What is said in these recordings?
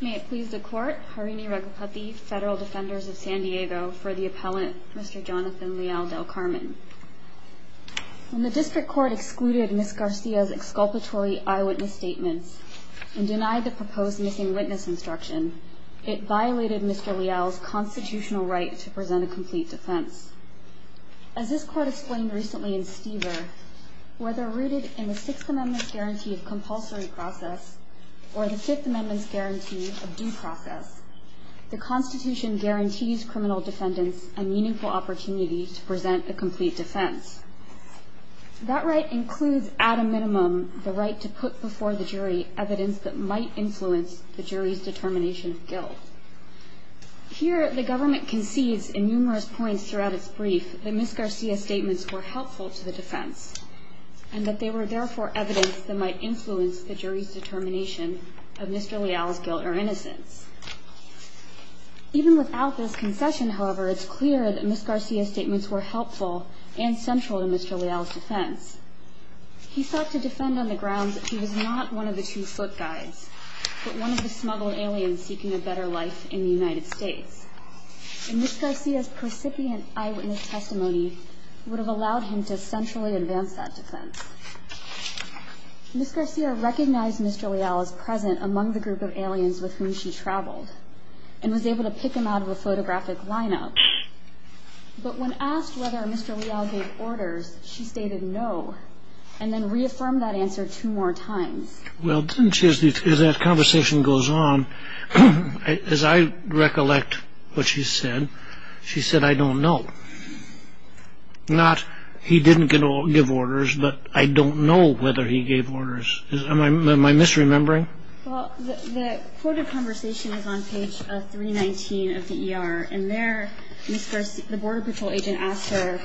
May it please the Court, Harini Raghupathy, Federal Defenders of San Diego, for the Appellant, Mr. Jonathan Leal-Del Carmen. When the District Court excluded Ms. Garcia's exculpatory eyewitness statements and denied the proposed missing witness instruction, it violated Mr. Leal's constitutional right to present a complete defense. As this Court explained recently in Stever, whether rooted in the Sixth Amendment's guarantee of compulsory process or the Fifth Amendment's guarantee of due process, the Constitution guarantees criminal defendants a meaningful opportunity to present a complete defense. That right includes, at a minimum, the right to put before the jury evidence that might influence the jury's determination of guilt. Here, the government concedes in numerous points throughout its brief that Ms. Garcia's statements were helpful to the defense and that they were therefore evidence that might influence the jury's determination of Mr. Leal's guilt or innocence. Even without this concession, however, it's clear that Ms. Garcia's statements were helpful and central to Mr. Leal's defense. He sought to defend on the grounds that he was not one of the two foot guides, but one of the smuggled aliens seeking a better life in the United States. And Ms. Garcia's precipient eyewitness testimony would have allowed him to centrally advance that defense. Ms. Garcia recognized Mr. Leal as present among the group of aliens with whom she traveled and was able to pick him out of a photographic lineup. But when asked whether Mr. Leal gave orders, she stated no and then reaffirmed that answer two more times. Well, as that conversation goes on, as I recollect what she said, she said, I don't know. Not he didn't give orders, but I don't know whether he gave orders. Am I misremembering? Well, the quoted conversation is on page three, 19 of the E.R. And there the border patrol agent asked her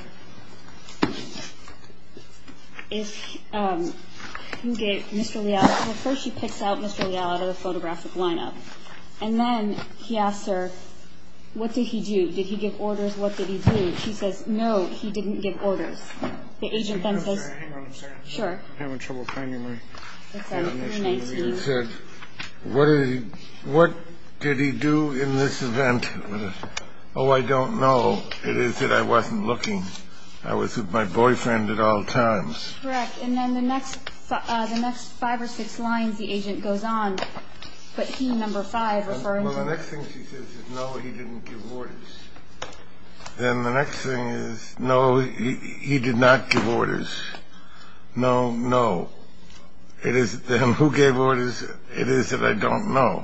if you get Mr. Leal. First, she picks out Mr. Leal out of the photographic lineup. And then he asked her, what did he do? Did he give orders? What did he do? She says, no, he didn't give orders. The agent then says, sure. What did he do in this event? Oh, I don't know. It is that I wasn't looking. I was with my boyfriend at all times. Correct. And then the next five or six lines, the agent goes on. But he, number five, referring to. Well, the next thing she says is, no, he didn't give orders. Then the next thing is, no, he did not give orders. No, no. It is who gave orders. It is that I don't know.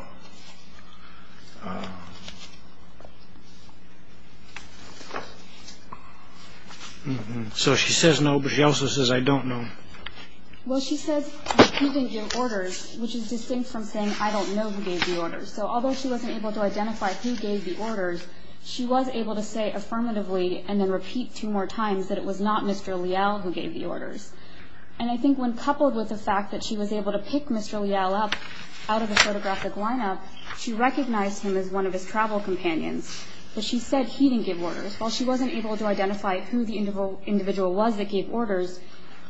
So she says no, but she also says I don't know. Well, she says he didn't give orders, which is distinct from saying I don't know who gave the orders. So although she wasn't able to identify who gave the orders, she was able to say affirmatively and then repeat two more times that it was not Mr. Leal who gave the orders. And I think when coupled with the fact that she was able to pick Mr. Leal up out of the photographic lineup, she recognized him as one of his travel companions. But she said he didn't give orders. While she wasn't able to identify who the individual was that gave orders,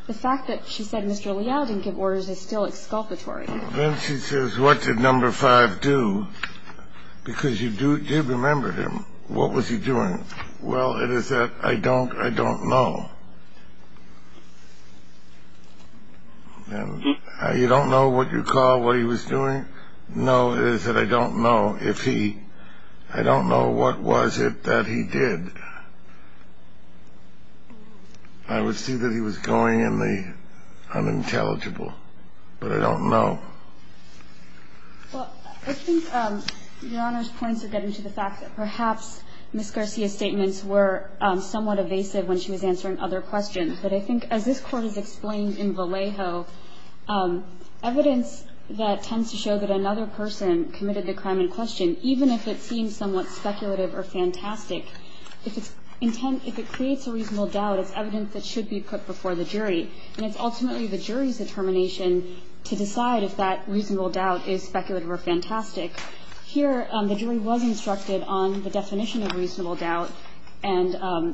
the fact that she said Mr. Leal didn't give orders is still exculpatory. Then she says, what did number five do? Because you do remember him. What was he doing? Well, it is that I don't know. You don't know what you call what he was doing? No, it is that I don't know if he, I don't know what was it that he did. I would see that he was going in the unintelligible, but I don't know. Well, I think Your Honor's points are getting to the fact that perhaps Ms. Garcia's statements were somewhat evasive when she was answering other questions. But I think as this Court has explained in Vallejo, evidence that tends to show that another person committed the crime in question, even if it seems somewhat speculative or fantastic, if it creates a reasonable doubt, it's evidence that should be put before the jury. And it's ultimately the jury's determination to decide if that reasonable doubt is speculative or fantastic. Here the jury was instructed on the definition of reasonable doubt and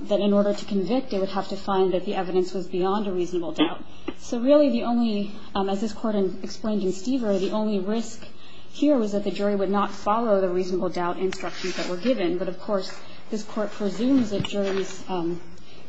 that in order to convict, it would have to find that the evidence was beyond a reasonable doubt. So really the only, as this Court explained in Stever, the only risk here was that the jury would not follow the reasonable doubt instructions that were given. But, of course, this Court presumes that juries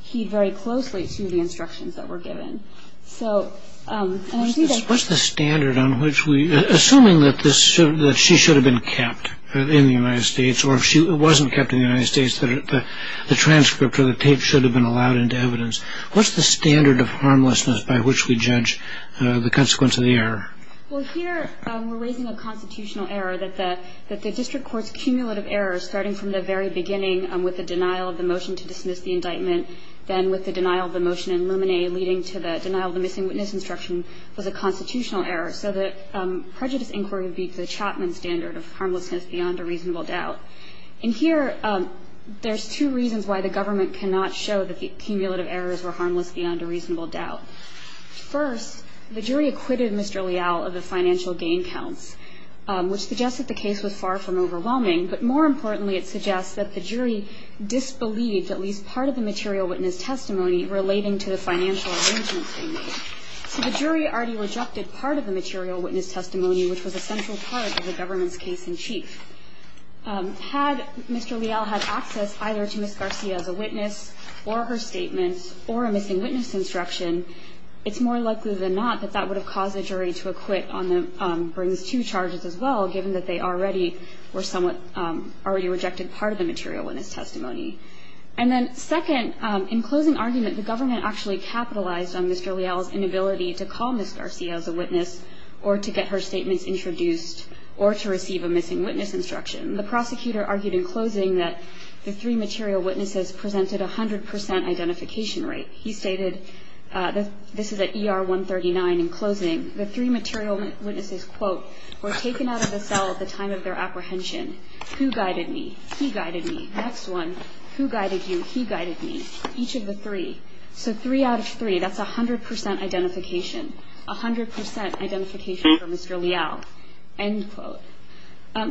heed very closely to the instructions that were given. So, and I see that. What's the standard on which we, assuming that she should have been kept in the United States or if she wasn't kept in the United States, that the transcript or the tape should have been allowed into evidence. What's the standard of harmlessness by which we judge the consequence of the error? Well, here we're raising a constitutional error that the district court's cumulative error starting from the very beginning with the denial of the motion to dismiss the indictment, then with the denial of the motion in Luminae leading to the denial of the missing witness instruction was a constitutional error. So the prejudice inquiry would be the Chapman standard of harmlessness beyond a reasonable doubt. And here there's two reasons why the government cannot show that the cumulative errors were harmless beyond a reasonable doubt. First, the jury acquitted Mr. Leal of the financial gain counts, which suggests that the case was far from overwhelming. But more importantly, it suggests that the jury disbelieved at least part of the material witness testimony relating to the financial arrangements they made. So the jury already rejected part of the material witness testimony, which was a central part of the government's case in chief. Had Mr. Leal had access either to Ms. Garcia as a witness or her statements or a missing witness instruction, it's more likely than not that that would have caused the jury to And then second, in closing argument, the government actually capitalized on Mr. Leal's inability to call Ms. Garcia as a witness or to get her statements introduced or to receive a missing witness instruction. The prosecutor argued in closing that the three material witnesses presented a 100 percent identification rate. He stated, this is at ER 139 in closing, the three material witnesses, quote, were taken out of the cell at the time of their apprehension. Who guided me? He guided me. Next one. Who guided you? He guided me. Each of the three. So three out of three. That's a 100 percent identification. A 100 percent identification for Mr. Leal, end quote.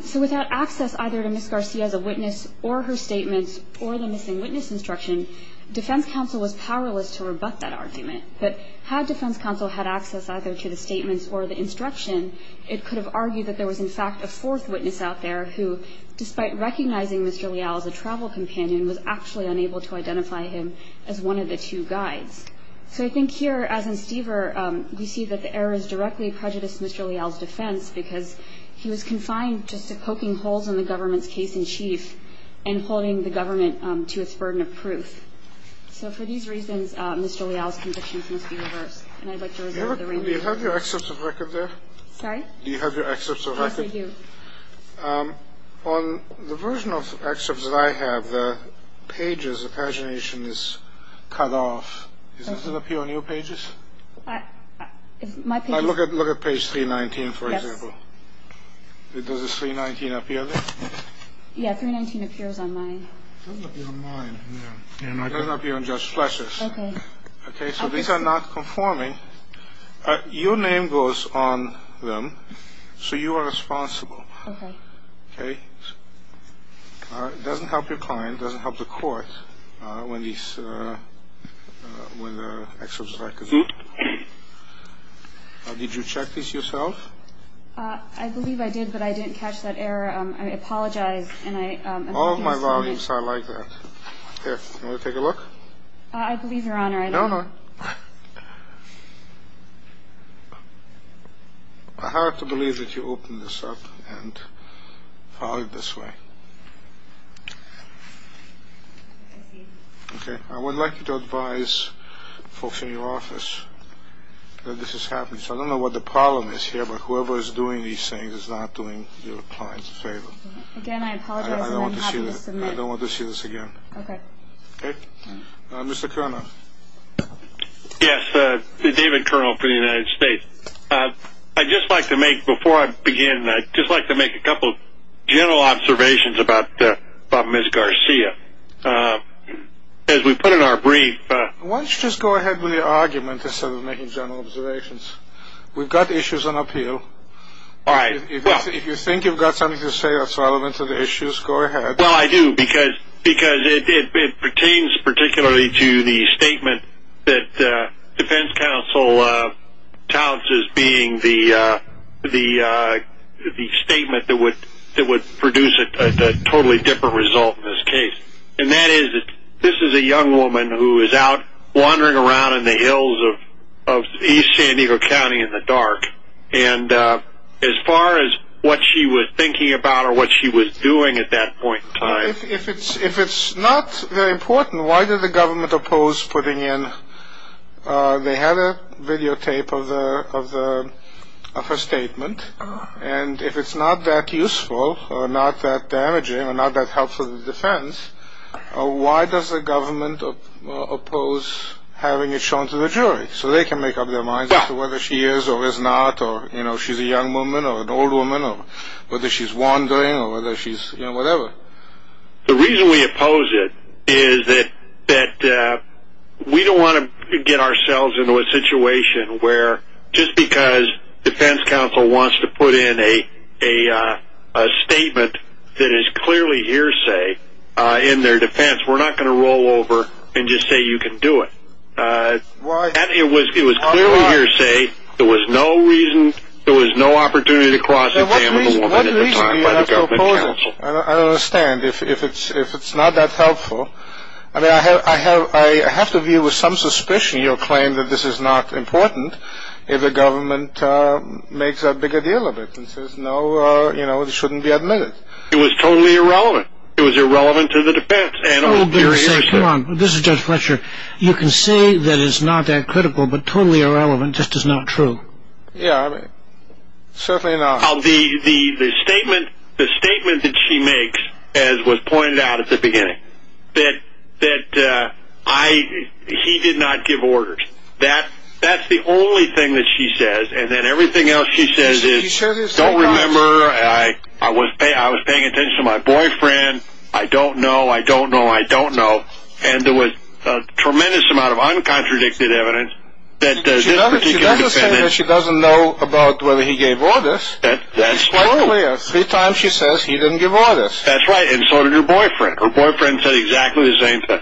So without access either to Ms. Garcia as a witness or her statements or the missing witness instruction, defense counsel was powerless to rebut that argument. But had defense counsel had access either to the statements or the instruction, it could have argued that there was, in fact, a fourth witness out there who, despite recognizing Mr. Leal as a travel companion, was actually unable to identify him as one of the two guides. So I think here, as in Stever, we see that the errors directly prejudiced Mr. Leal's defense because he was confined just to poking holes in the government's case-in-chief and holding the government to its burden of proof. So for these reasons, Mr. Leal's convictions must be reversed. And I'd like to reserve the remaining time. Do you have your excerpts of record there? Sorry? Do you have your excerpts of record? Yes, I do. On the version of excerpts that I have, the pages, the pagination is cut off. Does it appear on your pages? My pages. Look at page 319, for example. Yes. Does this 319 appear there? Yeah, 319 appears on my. It doesn't appear on mine. It doesn't appear on Judge Fletcher's. Okay. Okay, so these are not conforming. Your name goes on them, so you are responsible. Okay. Okay? It doesn't help your client. It doesn't help the court when these, when the excerpts of record. Good. Did you check these yourself? I believe I did, but I didn't catch that error. I apologize. All of my volumes are like that. Here, want to take a look? I believe, Your Honor, I didn't. No, no. I have to believe that you opened this up and followed it this way. Okay, I would like you to advise folks in your office that this is happening. So I don't know what the problem is here, but whoever is doing these things is not doing their clients a favor. Again, I apologize. I don't want to see this again. Okay. Okay? Mr. Kerner. Yes, David Kerner for the United States. I'd just like to make, before I begin, I'd just like to make a couple general observations about Ms. Garcia. As we put in our brief. Why don't you just go ahead with your argument instead of making general observations? We've got issues on appeal. All right, well. If you think you've got something to say that's relevant to the issues, go ahead. Well, I do, because it pertains particularly to the statement that defense counsel touts as being the statement that would produce a totally different result in this case. And that is that this is a young woman who is out wandering around in the hills of East San Diego County in the dark. And as far as what she was thinking about or what she was doing at that point in time. If it's not very important, why did the government oppose putting in, they had a videotape of her statement, and if it's not that useful or not that damaging or not that helpful to the defense, why does the government oppose having it shown to the jury? So they can make up their minds as to whether she is or is not, or she's a young woman or an old woman, or whether she's wandering or whether she's, you know, whatever. The reason we oppose it is that we don't want to get ourselves into a situation where, just because defense counsel wants to put in a statement that is clearly hearsay in their defense, we're not going to roll over and just say you can do it. Why? It was clearly hearsay. There was no reason, there was no opportunity to cross examine a woman at the time by the government counsel. What reason do you have to oppose it? I don't understand. If it's not that helpful, I mean, I have to view with some suspicion your claim that this is not important if the government makes a bigger deal of it and says no, you know, it shouldn't be admitted. It was totally irrelevant. It was irrelevant to the defense. Come on, this is Judge Fletcher. You can say that it's not that critical, but totally irrelevant just is not true. Yeah, certainly not. The statement that she makes, as was pointed out at the beginning, that he did not give orders. That's the only thing that she says, and then everything else she says is, I don't remember, I was paying attention to my boyfriend, I don't know, I don't know, I don't know, and there was a tremendous amount of uncontradicted evidence that this particular defendant She doesn't say that she doesn't know about whether he gave orders. That's true. It's quite clear. Three times she says he didn't give orders. That's right, and so did her boyfriend. Her boyfriend said exactly the same thing.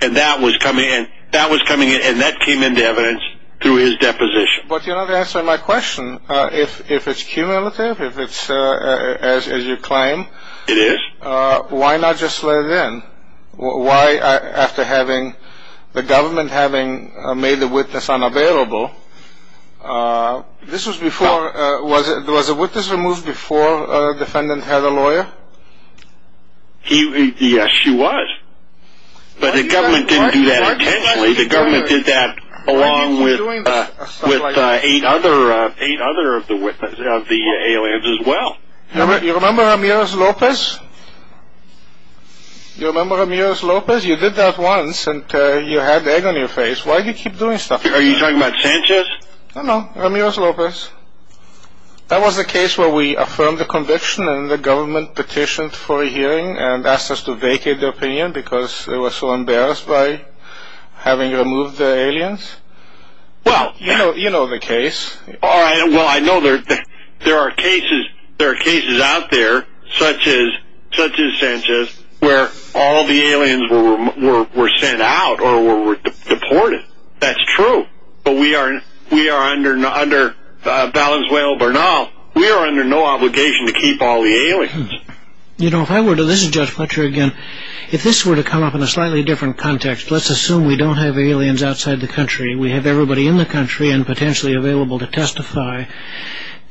And that was coming in, and that came into evidence through his deposition. But you're not answering my question. If it's cumulative, if it's as you claim, why not just let it in? Why, after having the government having made the witness unavailable, this was before, was a witness removed before a defendant had a lawyer? Yes, she was. But the government didn't do that intentionally. The government did that along with eight other of the aliens as well. You remember Ramirez Lopez? You remember Ramirez Lopez? You did that once, and you had the egg on your face. Why do you keep doing stuff like that? Are you talking about Sanchez? No, no, Ramirez Lopez. That was the case where we affirmed the conviction, and the government petitioned for a hearing and asked us to vacate the opinion because they were so embarrassed by having removed the aliens? Well, you know the case. Well, I know there are cases out there, such as Sanchez, where all the aliens were sent out or were deported. That's true. But we are, under Valenzuelo Bernal, we are under no obligation to keep all the aliens. You know, if I were to listen to Judge Fletcher again, if this were to come up in a slightly different context, let's assume we don't have aliens outside the country. We have everybody in the country and potentially available to testify.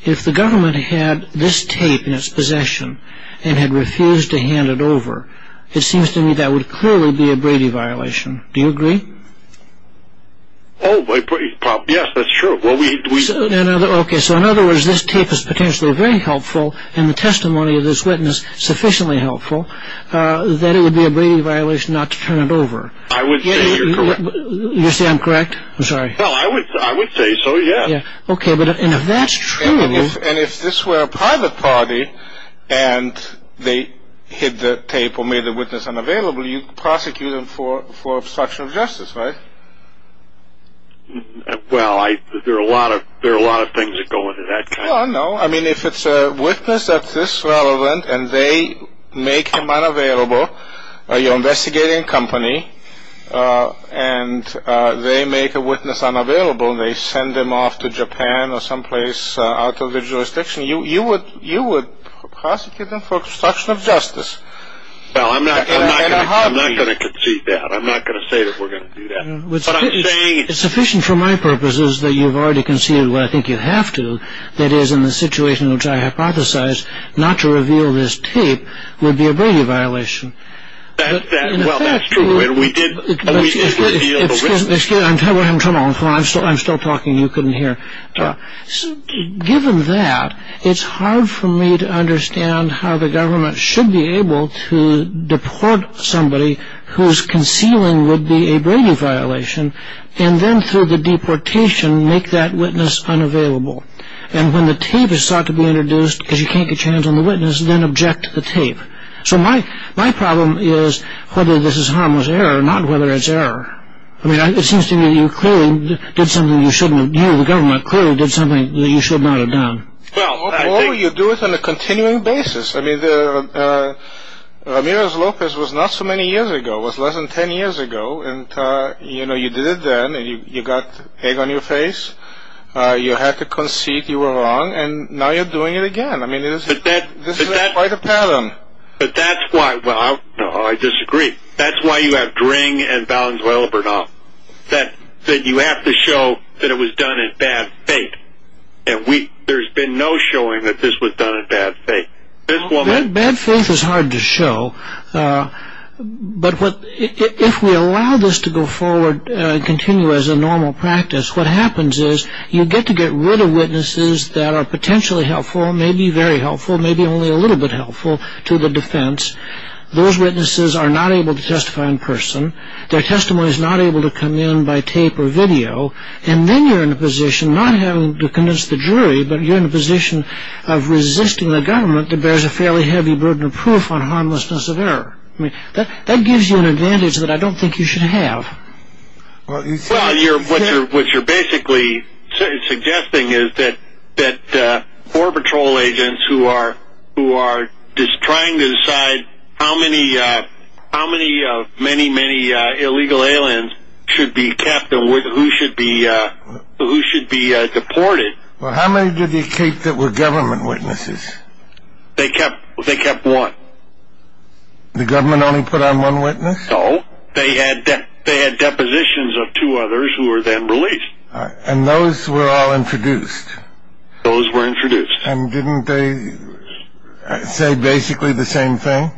If the government had this tape in its possession and had refused to hand it over, it seems to me that would clearly be a Brady violation. Do you agree? Oh, yes, that's true. Okay, so in other words, this tape is potentially very helpful and the testimony of this witness sufficiently helpful that it would be a Brady violation not to turn it over. I would say you're correct. You say I'm correct? I'm sorry. No, I would say so, yes. Okay, and if that's true. And if this were a private party and they hid the tape or made the witness unavailable, you'd prosecute them for obstruction of justice, right? Well, there are a lot of things that go into that kind of thing. Well, I don't know. I mean, if it's a witness that's this relevant and they make him unavailable, you're investigating a company and they make a witness unavailable and they send them off to Japan or someplace out of their jurisdiction, you would prosecute them for obstruction of justice. Well, I'm not going to concede that. I'm not going to say that we're going to do that. What I'm saying is... Well, I think you have to. That is, in the situation in which I hypothesize, not to reveal this tape would be a Brady violation. Well, that's true. We did reveal the witness. Excuse me. I'm still talking. You couldn't hear. Given that, it's hard for me to understand how the government should be able to deport somebody whose concealing would be a Brady violation and then through the deportation make that witness unavailable. And when the tape is sought to be introduced because you can't get your hands on the witness, then object to the tape. So my problem is whether this is harmless error, not whether it's error. I mean, it seems to me that you clearly did something you shouldn't have... You, the government, clearly did something that you should not have done. Well, you do it on a continuing basis. I mean, Ramirez-Lopez was not so many years ago. It was less than ten years ago. And, you know, you did it then, and you got egg on your face. You had to concede you were wrong, and now you're doing it again. I mean, this is quite a pattern. But that's why, well, I disagree. That's why you have Dring and Valenzuela-Bernal. That you have to show that it was done in bad faith. And there's been no showing that this was done in bad faith. Bad faith is hard to show. But if we allow this to go forward and continue as a normal practice, what happens is you get to get rid of witnesses that are potentially helpful, maybe very helpful, maybe only a little bit helpful to the defense. Those witnesses are not able to testify in person. Their testimony is not able to come in by tape or video. And then you're in a position, not having to convince the jury, but you're in a position of resisting the government that bears a fairly heavy burden of proof on harmlessness of error. I mean, that gives you an advantage that I don't think you should have. Well, what you're basically suggesting is that war patrol agents who are trying to decide how many of many, many illegal aliens should be kept and who should be deported. Well, how many did you keep that were government witnesses? They kept one. The government only put on one witness? No. They had depositions of two others who were then released. And those were all introduced? Those were introduced. And didn't they say basically the same thing?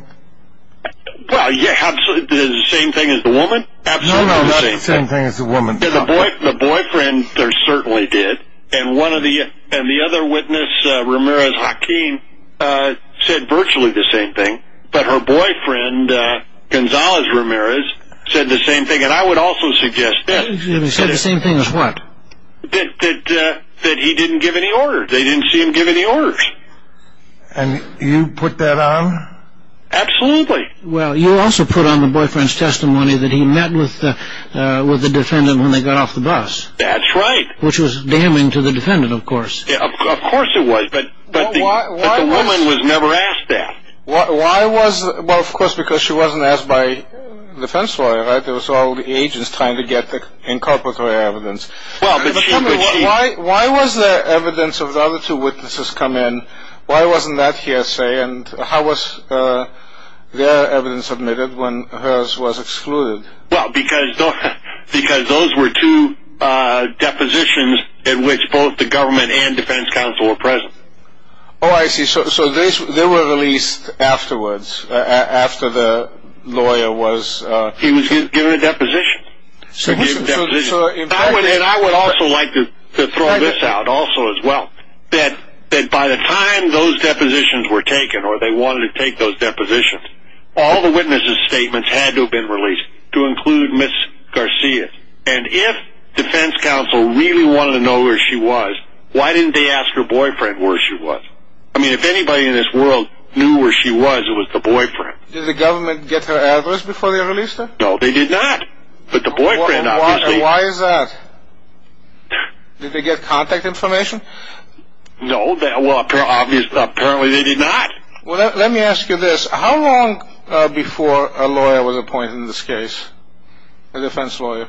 Well, yeah, absolutely. The same thing as the woman? No, no, not the same thing as the woman. The boyfriend certainly did. And the other witness, Ramirez-Hakim, said virtually the same thing. But her boyfriend, Gonzalez-Ramirez, said the same thing. And I would also suggest that. He said the same thing as what? That he didn't give any orders. They didn't see him give any orders. And you put that on? Absolutely. Well, you also put on the boyfriend's testimony that he met with the defendant when they got off the bus. That's right. Which was damning to the defendant, of course. Of course it was. But the woman was never asked that. Well, of course, because she wasn't asked by the defense lawyer, right? It was all the agents trying to get the inculpatory evidence. Why was there evidence of the other two witnesses come in? Why wasn't that hearsay? And how was their evidence submitted when hers was excluded? Well, because those were two depositions in which both the government and defense counsel were present. Oh, I see. So they were released afterwards, after the lawyer was... He was given a deposition. He was given a deposition. And I would also like to throw this out, also, as well. That by the time those depositions were taken, or they wanted to take those depositions, all the witnesses' statements had to have been released to include Ms. Garcia. And if defense counsel really wanted to know where she was, why didn't they ask her boyfriend where she was? I mean, if anybody in this world knew where she was, it was the boyfriend. Did the government get her address before they released her? No, they did not. But the boyfriend, obviously... Why is that? Did they get contact information? No. Well, apparently they did not. Well, let me ask you this. How long before a lawyer was appointed in this case, a defense lawyer?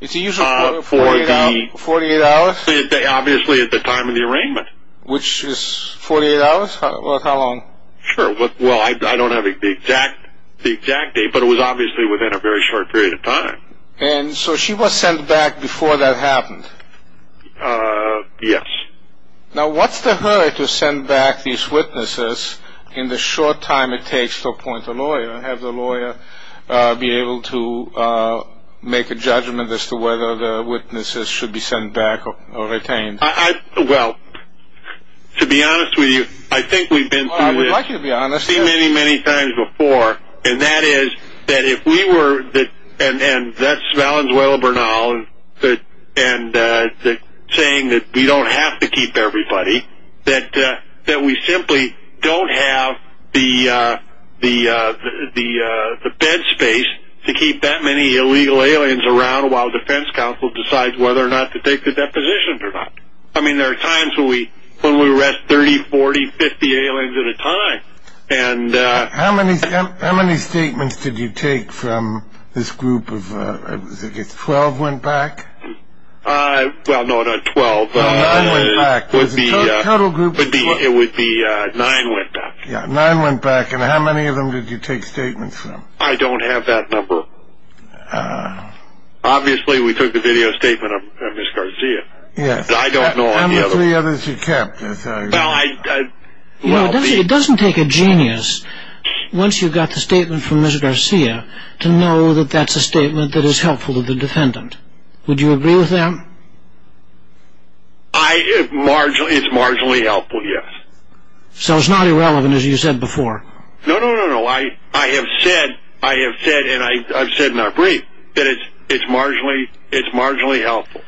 It's usually 48 hours. Obviously, at the time of the arraignment. Which is 48 hours? Well, how long? Sure. Well, I don't have the exact date, but it was obviously within a very short period of time. And so she was sent back before that happened? Yes. Now, what's the hurry to send back these witnesses in the short time it takes to appoint a lawyer and have the lawyer be able to make a judgment as to whether the witnesses should be sent back or retained? Well, to be honest with you, I think we've been through this... Well, I would like you to be honest... so many, many times before. And that is that if we were... and that's Valenzuela Bernal saying that we don't have to keep everybody, that we simply don't have the bed space to keep that many illegal aliens around while the defense counsel decides whether or not to take the depositions or not. I mean, there are times when we arrest 30, 40, 50 aliens at a time. And... How many statements did you take from this group of... I guess 12 went back? Well, no, not 12. No, nine went back. There's a total group of... It would be nine went back. Yeah, nine went back. And how many of them did you take statements from? I don't have that number. Obviously, we took the video statement of Ms. Garcia. Yes. But I don't know any other. And the three others you kept. Well, I... You know, it doesn't take a genius, once you've got the statement from Ms. Garcia, to know that that's a statement that is helpful to the defendant. Would you agree with that? I... it's marginally helpful, yes. So it's not irrelevant, as you said before. No, no, no, no. I have said, and I've said in our brief, that it's marginally helpful.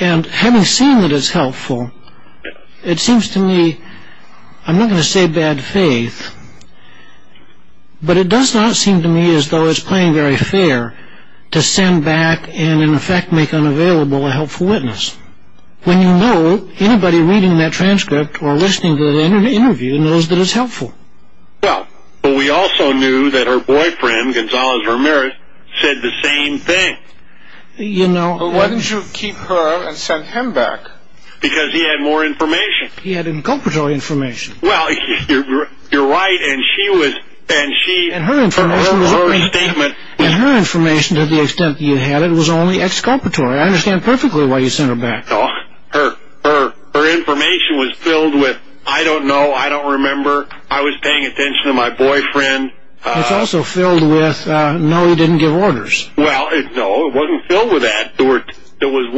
And having seen that it's helpful, it seems to me... I'm not going to say bad faith, but it does not seem to me as though it's playing very fair to send back and, in effect, make unavailable a helpful witness, when you know anybody reading that transcript or listening to the interview knows that it's helpful. Well, but we also knew that her boyfriend, Gonzales Ramirez, said the same thing. You know... Well, why didn't you keep her and send him back? Because he had more information. He had inculpatory information. Well, you're right, and she was... And her information was only... And her statement... And her information, to the extent that you had it, was only exculpatory. I understand perfectly why you sent her back. Her information was filled with, I don't know, I don't remember, I was paying attention to my boyfriend. It's also filled with, no, he didn't give orders. Well, no, it wasn't filled with that. There's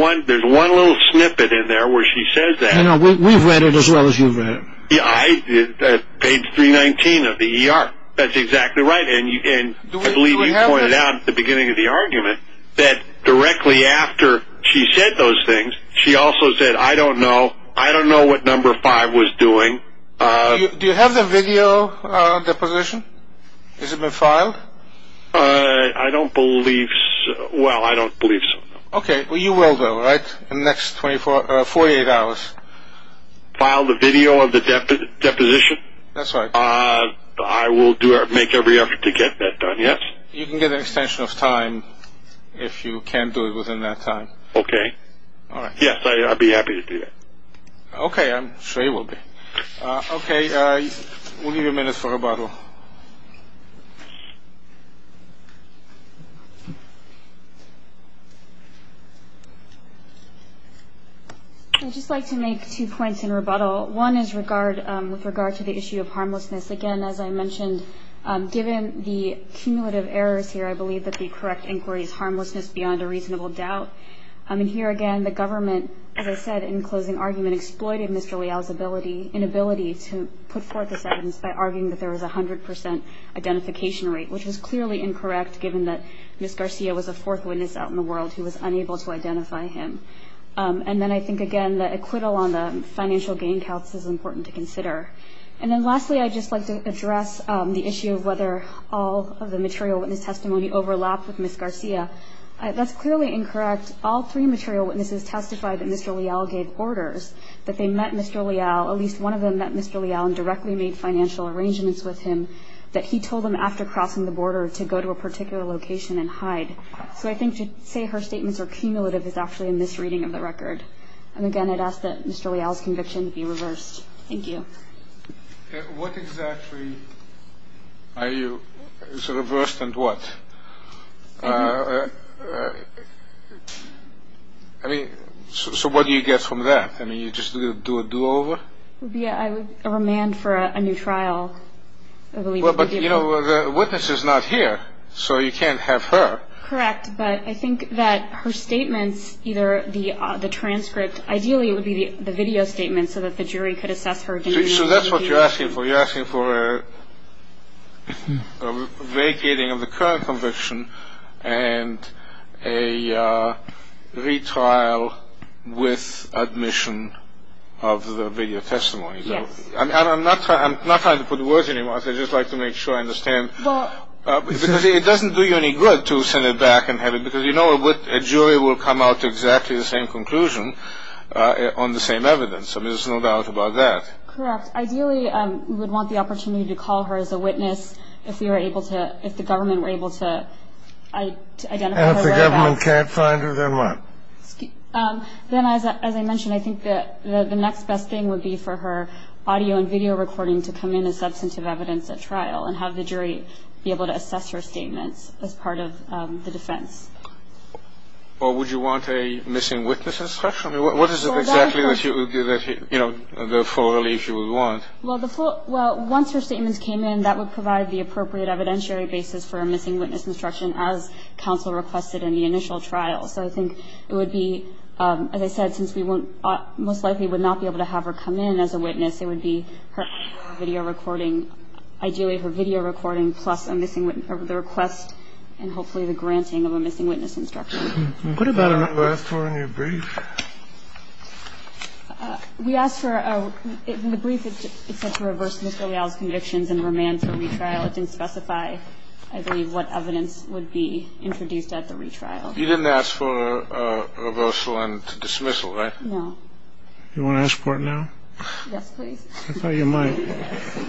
one little snippet in there where she says that. We've read it as well as you've read it. Page 319 of the ER. That's exactly right. And I believe you pointed out at the beginning of the argument that directly after she said those things, she also said, I don't know, I don't know what number five was doing. Do you have the video deposition? Has it been filed? I don't believe... Well, I don't believe so. Okay, well, you will though, right, in the next 48 hours? File the video of the deposition? That's right. I will make every effort to get that done, yes. You can get an extension of time if you can do it within that time. Okay. All right. Yes, I'd be happy to do that. Okay, I'm sure you will be. Okay, we'll give you a minute for rebuttal. I'd just like to make two points in rebuttal. One is with regard to the issue of harmlessness. Again, as I mentioned, given the cumulative errors here, I believe that the correct inquiry is harmlessness beyond a reasonable doubt. And here again, the government, as I said in closing argument, exploited Mr. Leal's inability to put forth this evidence by arguing that there was a 100% identification rate, which is clearly incorrect, given that Ms. Garcia was a fourth witness out in the world who was unable to identify him. And then I think, again, the acquittal on the financial gain counts is important to consider. And then lastly, I'd just like to address the issue of whether all of the material witness testimony overlapped with Ms. Garcia. That's clearly incorrect. All three material witnesses testified that Mr. Leal gave orders, that they met Mr. Leal, at least one of them met Mr. Leal and directly made financial arrangements with him, that he told them after crossing the border to go to a particular location and hide. So I think to say her statements are cumulative is actually a misreading of the record. And again, I'd ask that Mr. Leal's conviction be reversed. Thank you. What exactly are you sort of reversed and what? I mean, so what do you get from that? I mean, you just do a do-over? Yeah, a remand for a new trial. Well, but, you know, the witness is not here, so you can't have her. Correct. But I think that her statements, either the transcript, ideally it would be the video statement so that the jury could assess her. So that's what you're asking for. You're asking for a vacating of the current conviction and a retrial with admission of the video testimony. Yes. I'm not trying to put words in your mouth. I just like to make sure I understand. Because it doesn't do you any good to send it back and have it, Because, you know, a jury will come out to exactly the same conclusion on the same evidence. I mean, there's no doubt about that. Correct. Ideally, we would want the opportunity to call her as a witness if we were able to, if the government were able to identify her whereabouts. And if the government can't find her, then what? Then, as I mentioned, I think that the next best thing would be for her audio and video recording to come in as substantive evidence at trial and have the jury be able to assess her statements as part of the defense. Or would you want a missing witness instruction? What is exactly the full relief you would want? Well, once her statements came in, that would provide the appropriate evidentiary basis for a missing witness instruction as counsel requested in the initial trial. So I think it would be, as I said, since we most likely would not be able to have her come in as a witness, it would be her audio and video recording, ideally her video recording, plus a missing witness, the request, and hopefully the granting of a missing witness instruction. What about her? I don't remember asking for her in your brief. We asked for her. In the brief, it said to reverse Mr. Leal's convictions and remand for retrial. It didn't specify, I believe, what evidence would be introduced at the retrial. You didn't ask for reversal and dismissal, right? No. You want to ask for it now? Yes, please. I thought you might.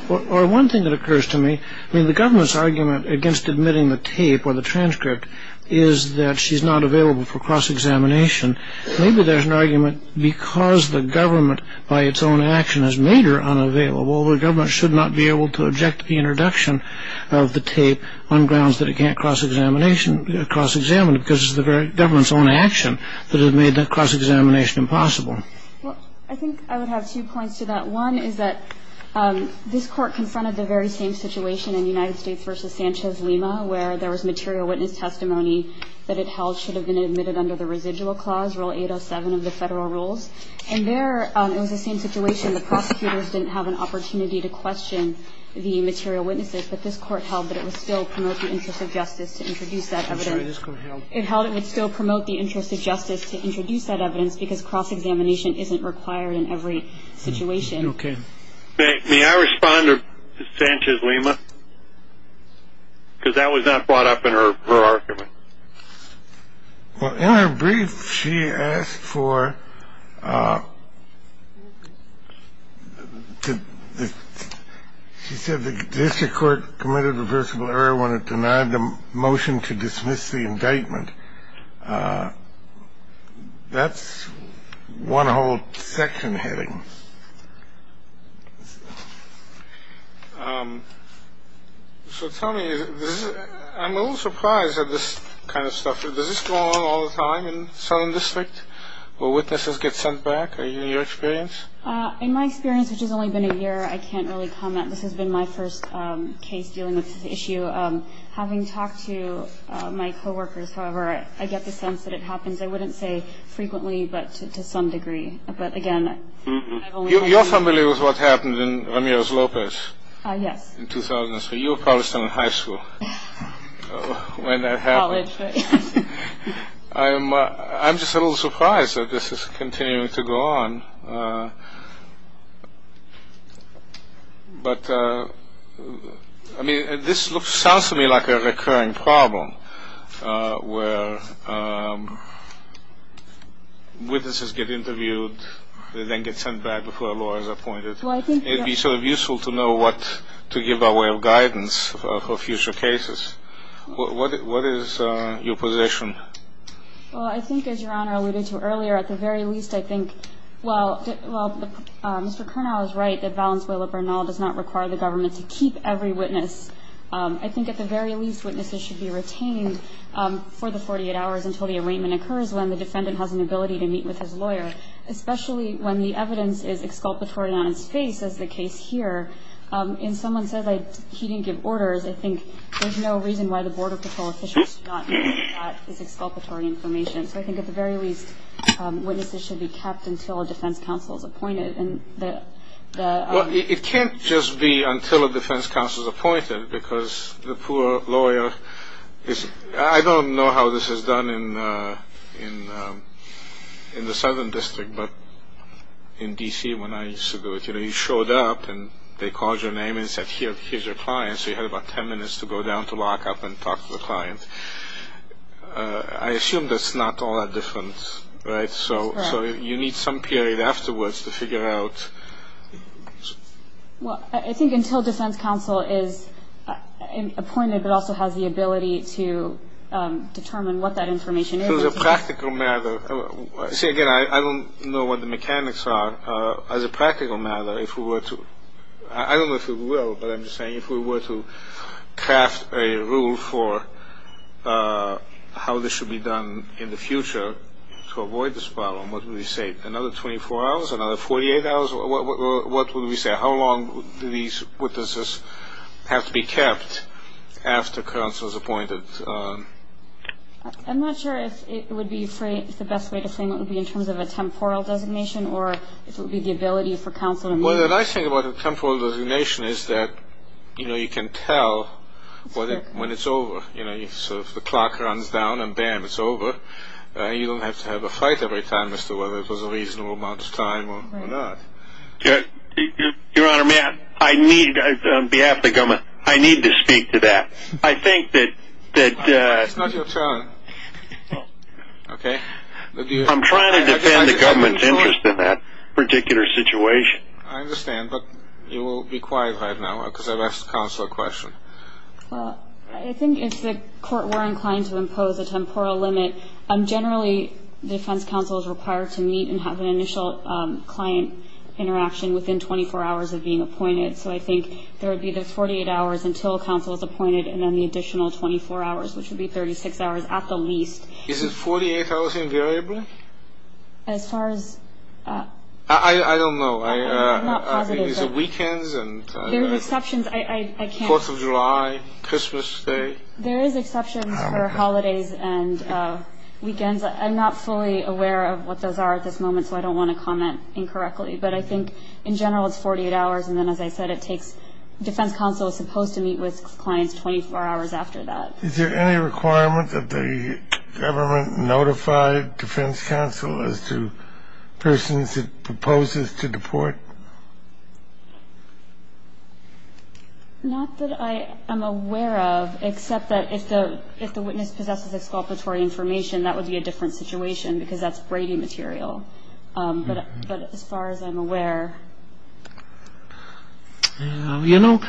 Or one thing that occurs to me, I mean the government's argument against admitting the tape or the transcript is that she's not available for cross-examination. Maybe there's an argument because the government by its own action has made her unavailable, the government should not be able to object to the introduction of the tape on grounds that it can't cross-examine her because it's the government's own action that has made that cross-examination impossible. Well, I think I would have two points to that. One is that this Court confronted the very same situation in United States v. Sanchez-Lima where there was material witness testimony that it held should have been admitted under the residual clause, Rule 807 of the Federal Rules. And there it was the same situation. The prosecutors didn't have an opportunity to question the material witnesses, but this Court held that it would still promote the interest of justice to introduce that evidence. I'm sorry, this Court held. It held it would still promote the interest of justice to introduce that evidence because cross-examination isn't required in every situation. Okay. May I respond to Sanchez-Lima? Because that was not brought up in her argument. Well, in her brief, she asked for, she said the District Court committed reversible error when it denied the motion to dismiss the indictment. That's one whole section heading. So tell me, I'm a little surprised at this kind of stuff. Does this go on all the time in Southern District where witnesses get sent back? In your experience? In my experience, which has only been a year, I can't really comment. This has been my first case dealing with this issue. Having talked to my co-workers, however, I get the sense that it happens, I wouldn't say frequently, but to some degree. But, again, I've only had a few. You're familiar with what happened in Ramirez-Lopez? Yes. In 2003. You were probably still in high school when that happened. College. I'm just a little surprised that this is continuing to go on. But, I mean, this sounds to me like a recurring problem where witnesses get interviewed, they then get sent back before a lawyer is appointed. It would be sort of useful to know what to give our way of guidance for future cases. What is your position? Well, I think, as Your Honor alluded to earlier, at the very least, I think, well, Mr. Kernow is right that Valenzuela Bernal does not require the government to keep every witness. I think, at the very least, witnesses should be retained for the 48 hours until the arraignment occurs, when the defendant has an ability to meet with his lawyer, especially when the evidence is exculpatory on his face, as the case here. If someone says he didn't give orders, I think there's no reason why the Border Patrol officials should not know that that is exculpatory information. So I think, at the very least, witnesses should be kept until a defense counsel is appointed. Well, it can't just be until a defense counsel is appointed because the poor lawyer is, I don't know how this is done in the Southern District, but in D.C. when I used to do it, you know, you showed up and they called your name and said, here's your client. So you had about 10 minutes to go down to lock up and talk to the client. I assume that's not all that different, right? That's correct. So you need some period afterwards to figure it out. Well, I think until defense counsel is appointed but also has the ability to determine what that information is. It's a practical matter. See, again, I don't know what the mechanics are. As a practical matter, if we were to, I don't know if we will, but I'm just saying if we were to craft a rule for how this should be done in the future to avoid this problem, what would we say, another 24 hours, another 48 hours? What would we say? How long do these witnesses have to be kept after counsel is appointed? I'm not sure if it would be the best way to frame it would be in terms of a temporal designation Well, the nice thing about a temporal designation is that you can tell when it's over. So if the clock runs down and, bam, it's over, you don't have to have a fight every time as to whether it was a reasonable amount of time or not. Your Honor, on behalf of the government, I need to speak to that. I think that It's not your turn. Okay. I'm trying to defend the government's interest in that particular situation. I understand, but you will be quiet right now because I've asked counsel a question. Well, I think if the court were inclined to impose a temporal limit, generally the defense counsel is required to meet and have an initial client interaction within 24 hours of being appointed. So I think there would be the 48 hours until counsel is appointed and then the additional 24 hours, which would be 36 hours at the least. Is it 48 hours invariably? As far as I don't know. I'm not positive. Is it weekends and Fourth of July, Christmas Day? There is exceptions for holidays and weekends. I'm not fully aware of what those are at this moment, so I don't want to comment incorrectly. But I think, in general, it's 48 hours. And then, as I said, it takes defense counsel is supposed to meet with clients 24 hours after that. Is there any requirement that the government notify defense counsel as to persons it proposes to deport? Not that I am aware of, except that if the witness possesses exculpatory information, that would be a different situation because that's Brady material. You know,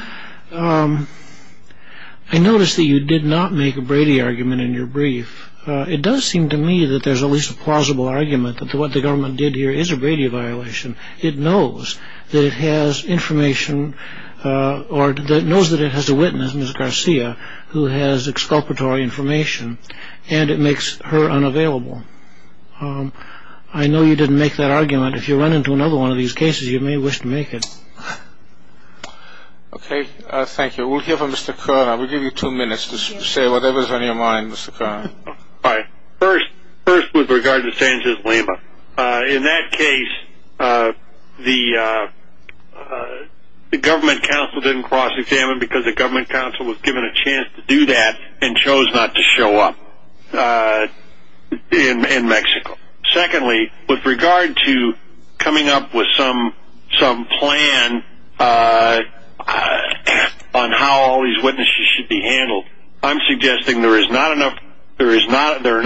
I noticed that you did not make a Brady argument in your brief. It does seem to me that there's at least a plausible argument that what the government did here is a Brady violation. It knows that it has information or that knows that it has a witness, Mrs. Garcia, who has exculpatory information and it makes her unavailable. I know you didn't make that argument. If you run into another one of these cases, you may wish to make it. Okay, thank you. We'll hear from Mr. Koerner. We'll give you two minutes to say whatever's on your mind, Mr. Koerner. All right. First, with regard to Sanchez Lima, in that case, the government counsel didn't cross-examine because the government counsel was given a chance to do that and chose not to show up in Mexico. Secondly, with regard to coming up with some plan on how all these witnesses should be handled, I'm suggesting there are not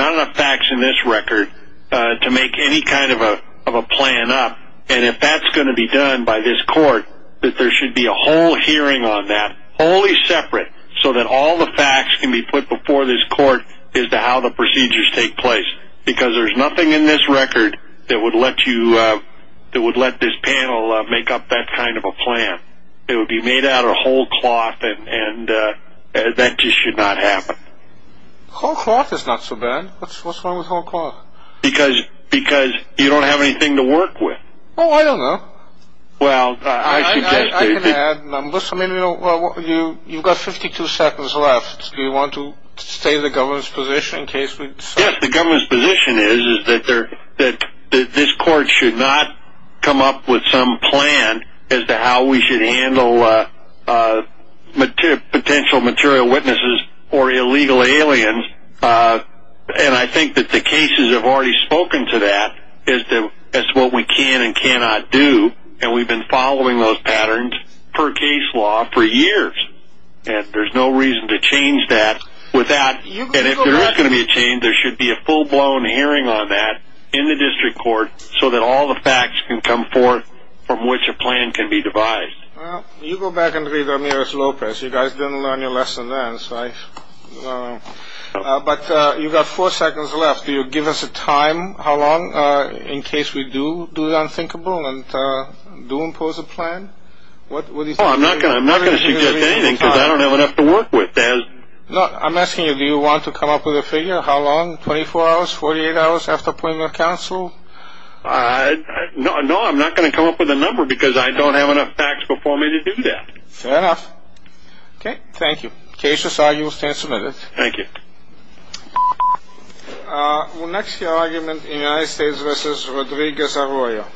enough facts in this record to make any kind of a plan up, and if that's going to be done by this court, that there should be a whole hearing on that, wholly separate, so that all the facts can be put before this court as to how the procedures take place because there's nothing in this record that would let this panel make up that kind of a plan. It would be made out of whole cloth, and that just should not happen. Whole cloth is not so bad. What's wrong with whole cloth? Because you don't have anything to work with. Oh, I don't know. Well, I suggest that... I can add numbers. I mean, you've got 52 seconds left. Do you want to stay in the government's position in case we... Yes, the government's position is that this court should not come up with some plan as to how we should handle potential material witnesses or illegal aliens, and I think that the cases have already spoken to that as to what we can and cannot do, and we've been following those patterns per case law for years, and there's no reason to change that without... There should be a full-blown hearing on that in the district court so that all the facts can come forth from which a plan can be devised. Well, you go back and read Amiris Lopez. You guys didn't learn your lesson then, so I don't know. But you've got four seconds left. Do you give us a time, how long, in case we do do the unthinkable and do impose a plan? I'm not going to suggest anything because I don't have enough to work with. I'm asking you, do you want to come up with a figure? How long, 24 hours, 48 hours after appointment of counsel? No, I'm not going to come up with a number because I don't have enough facts before me to do that. Fair enough. Okay, thank you. Case is argued, stand submitted. Thank you. Next argument, United States v. Rodriguez Arroyo. Thank you.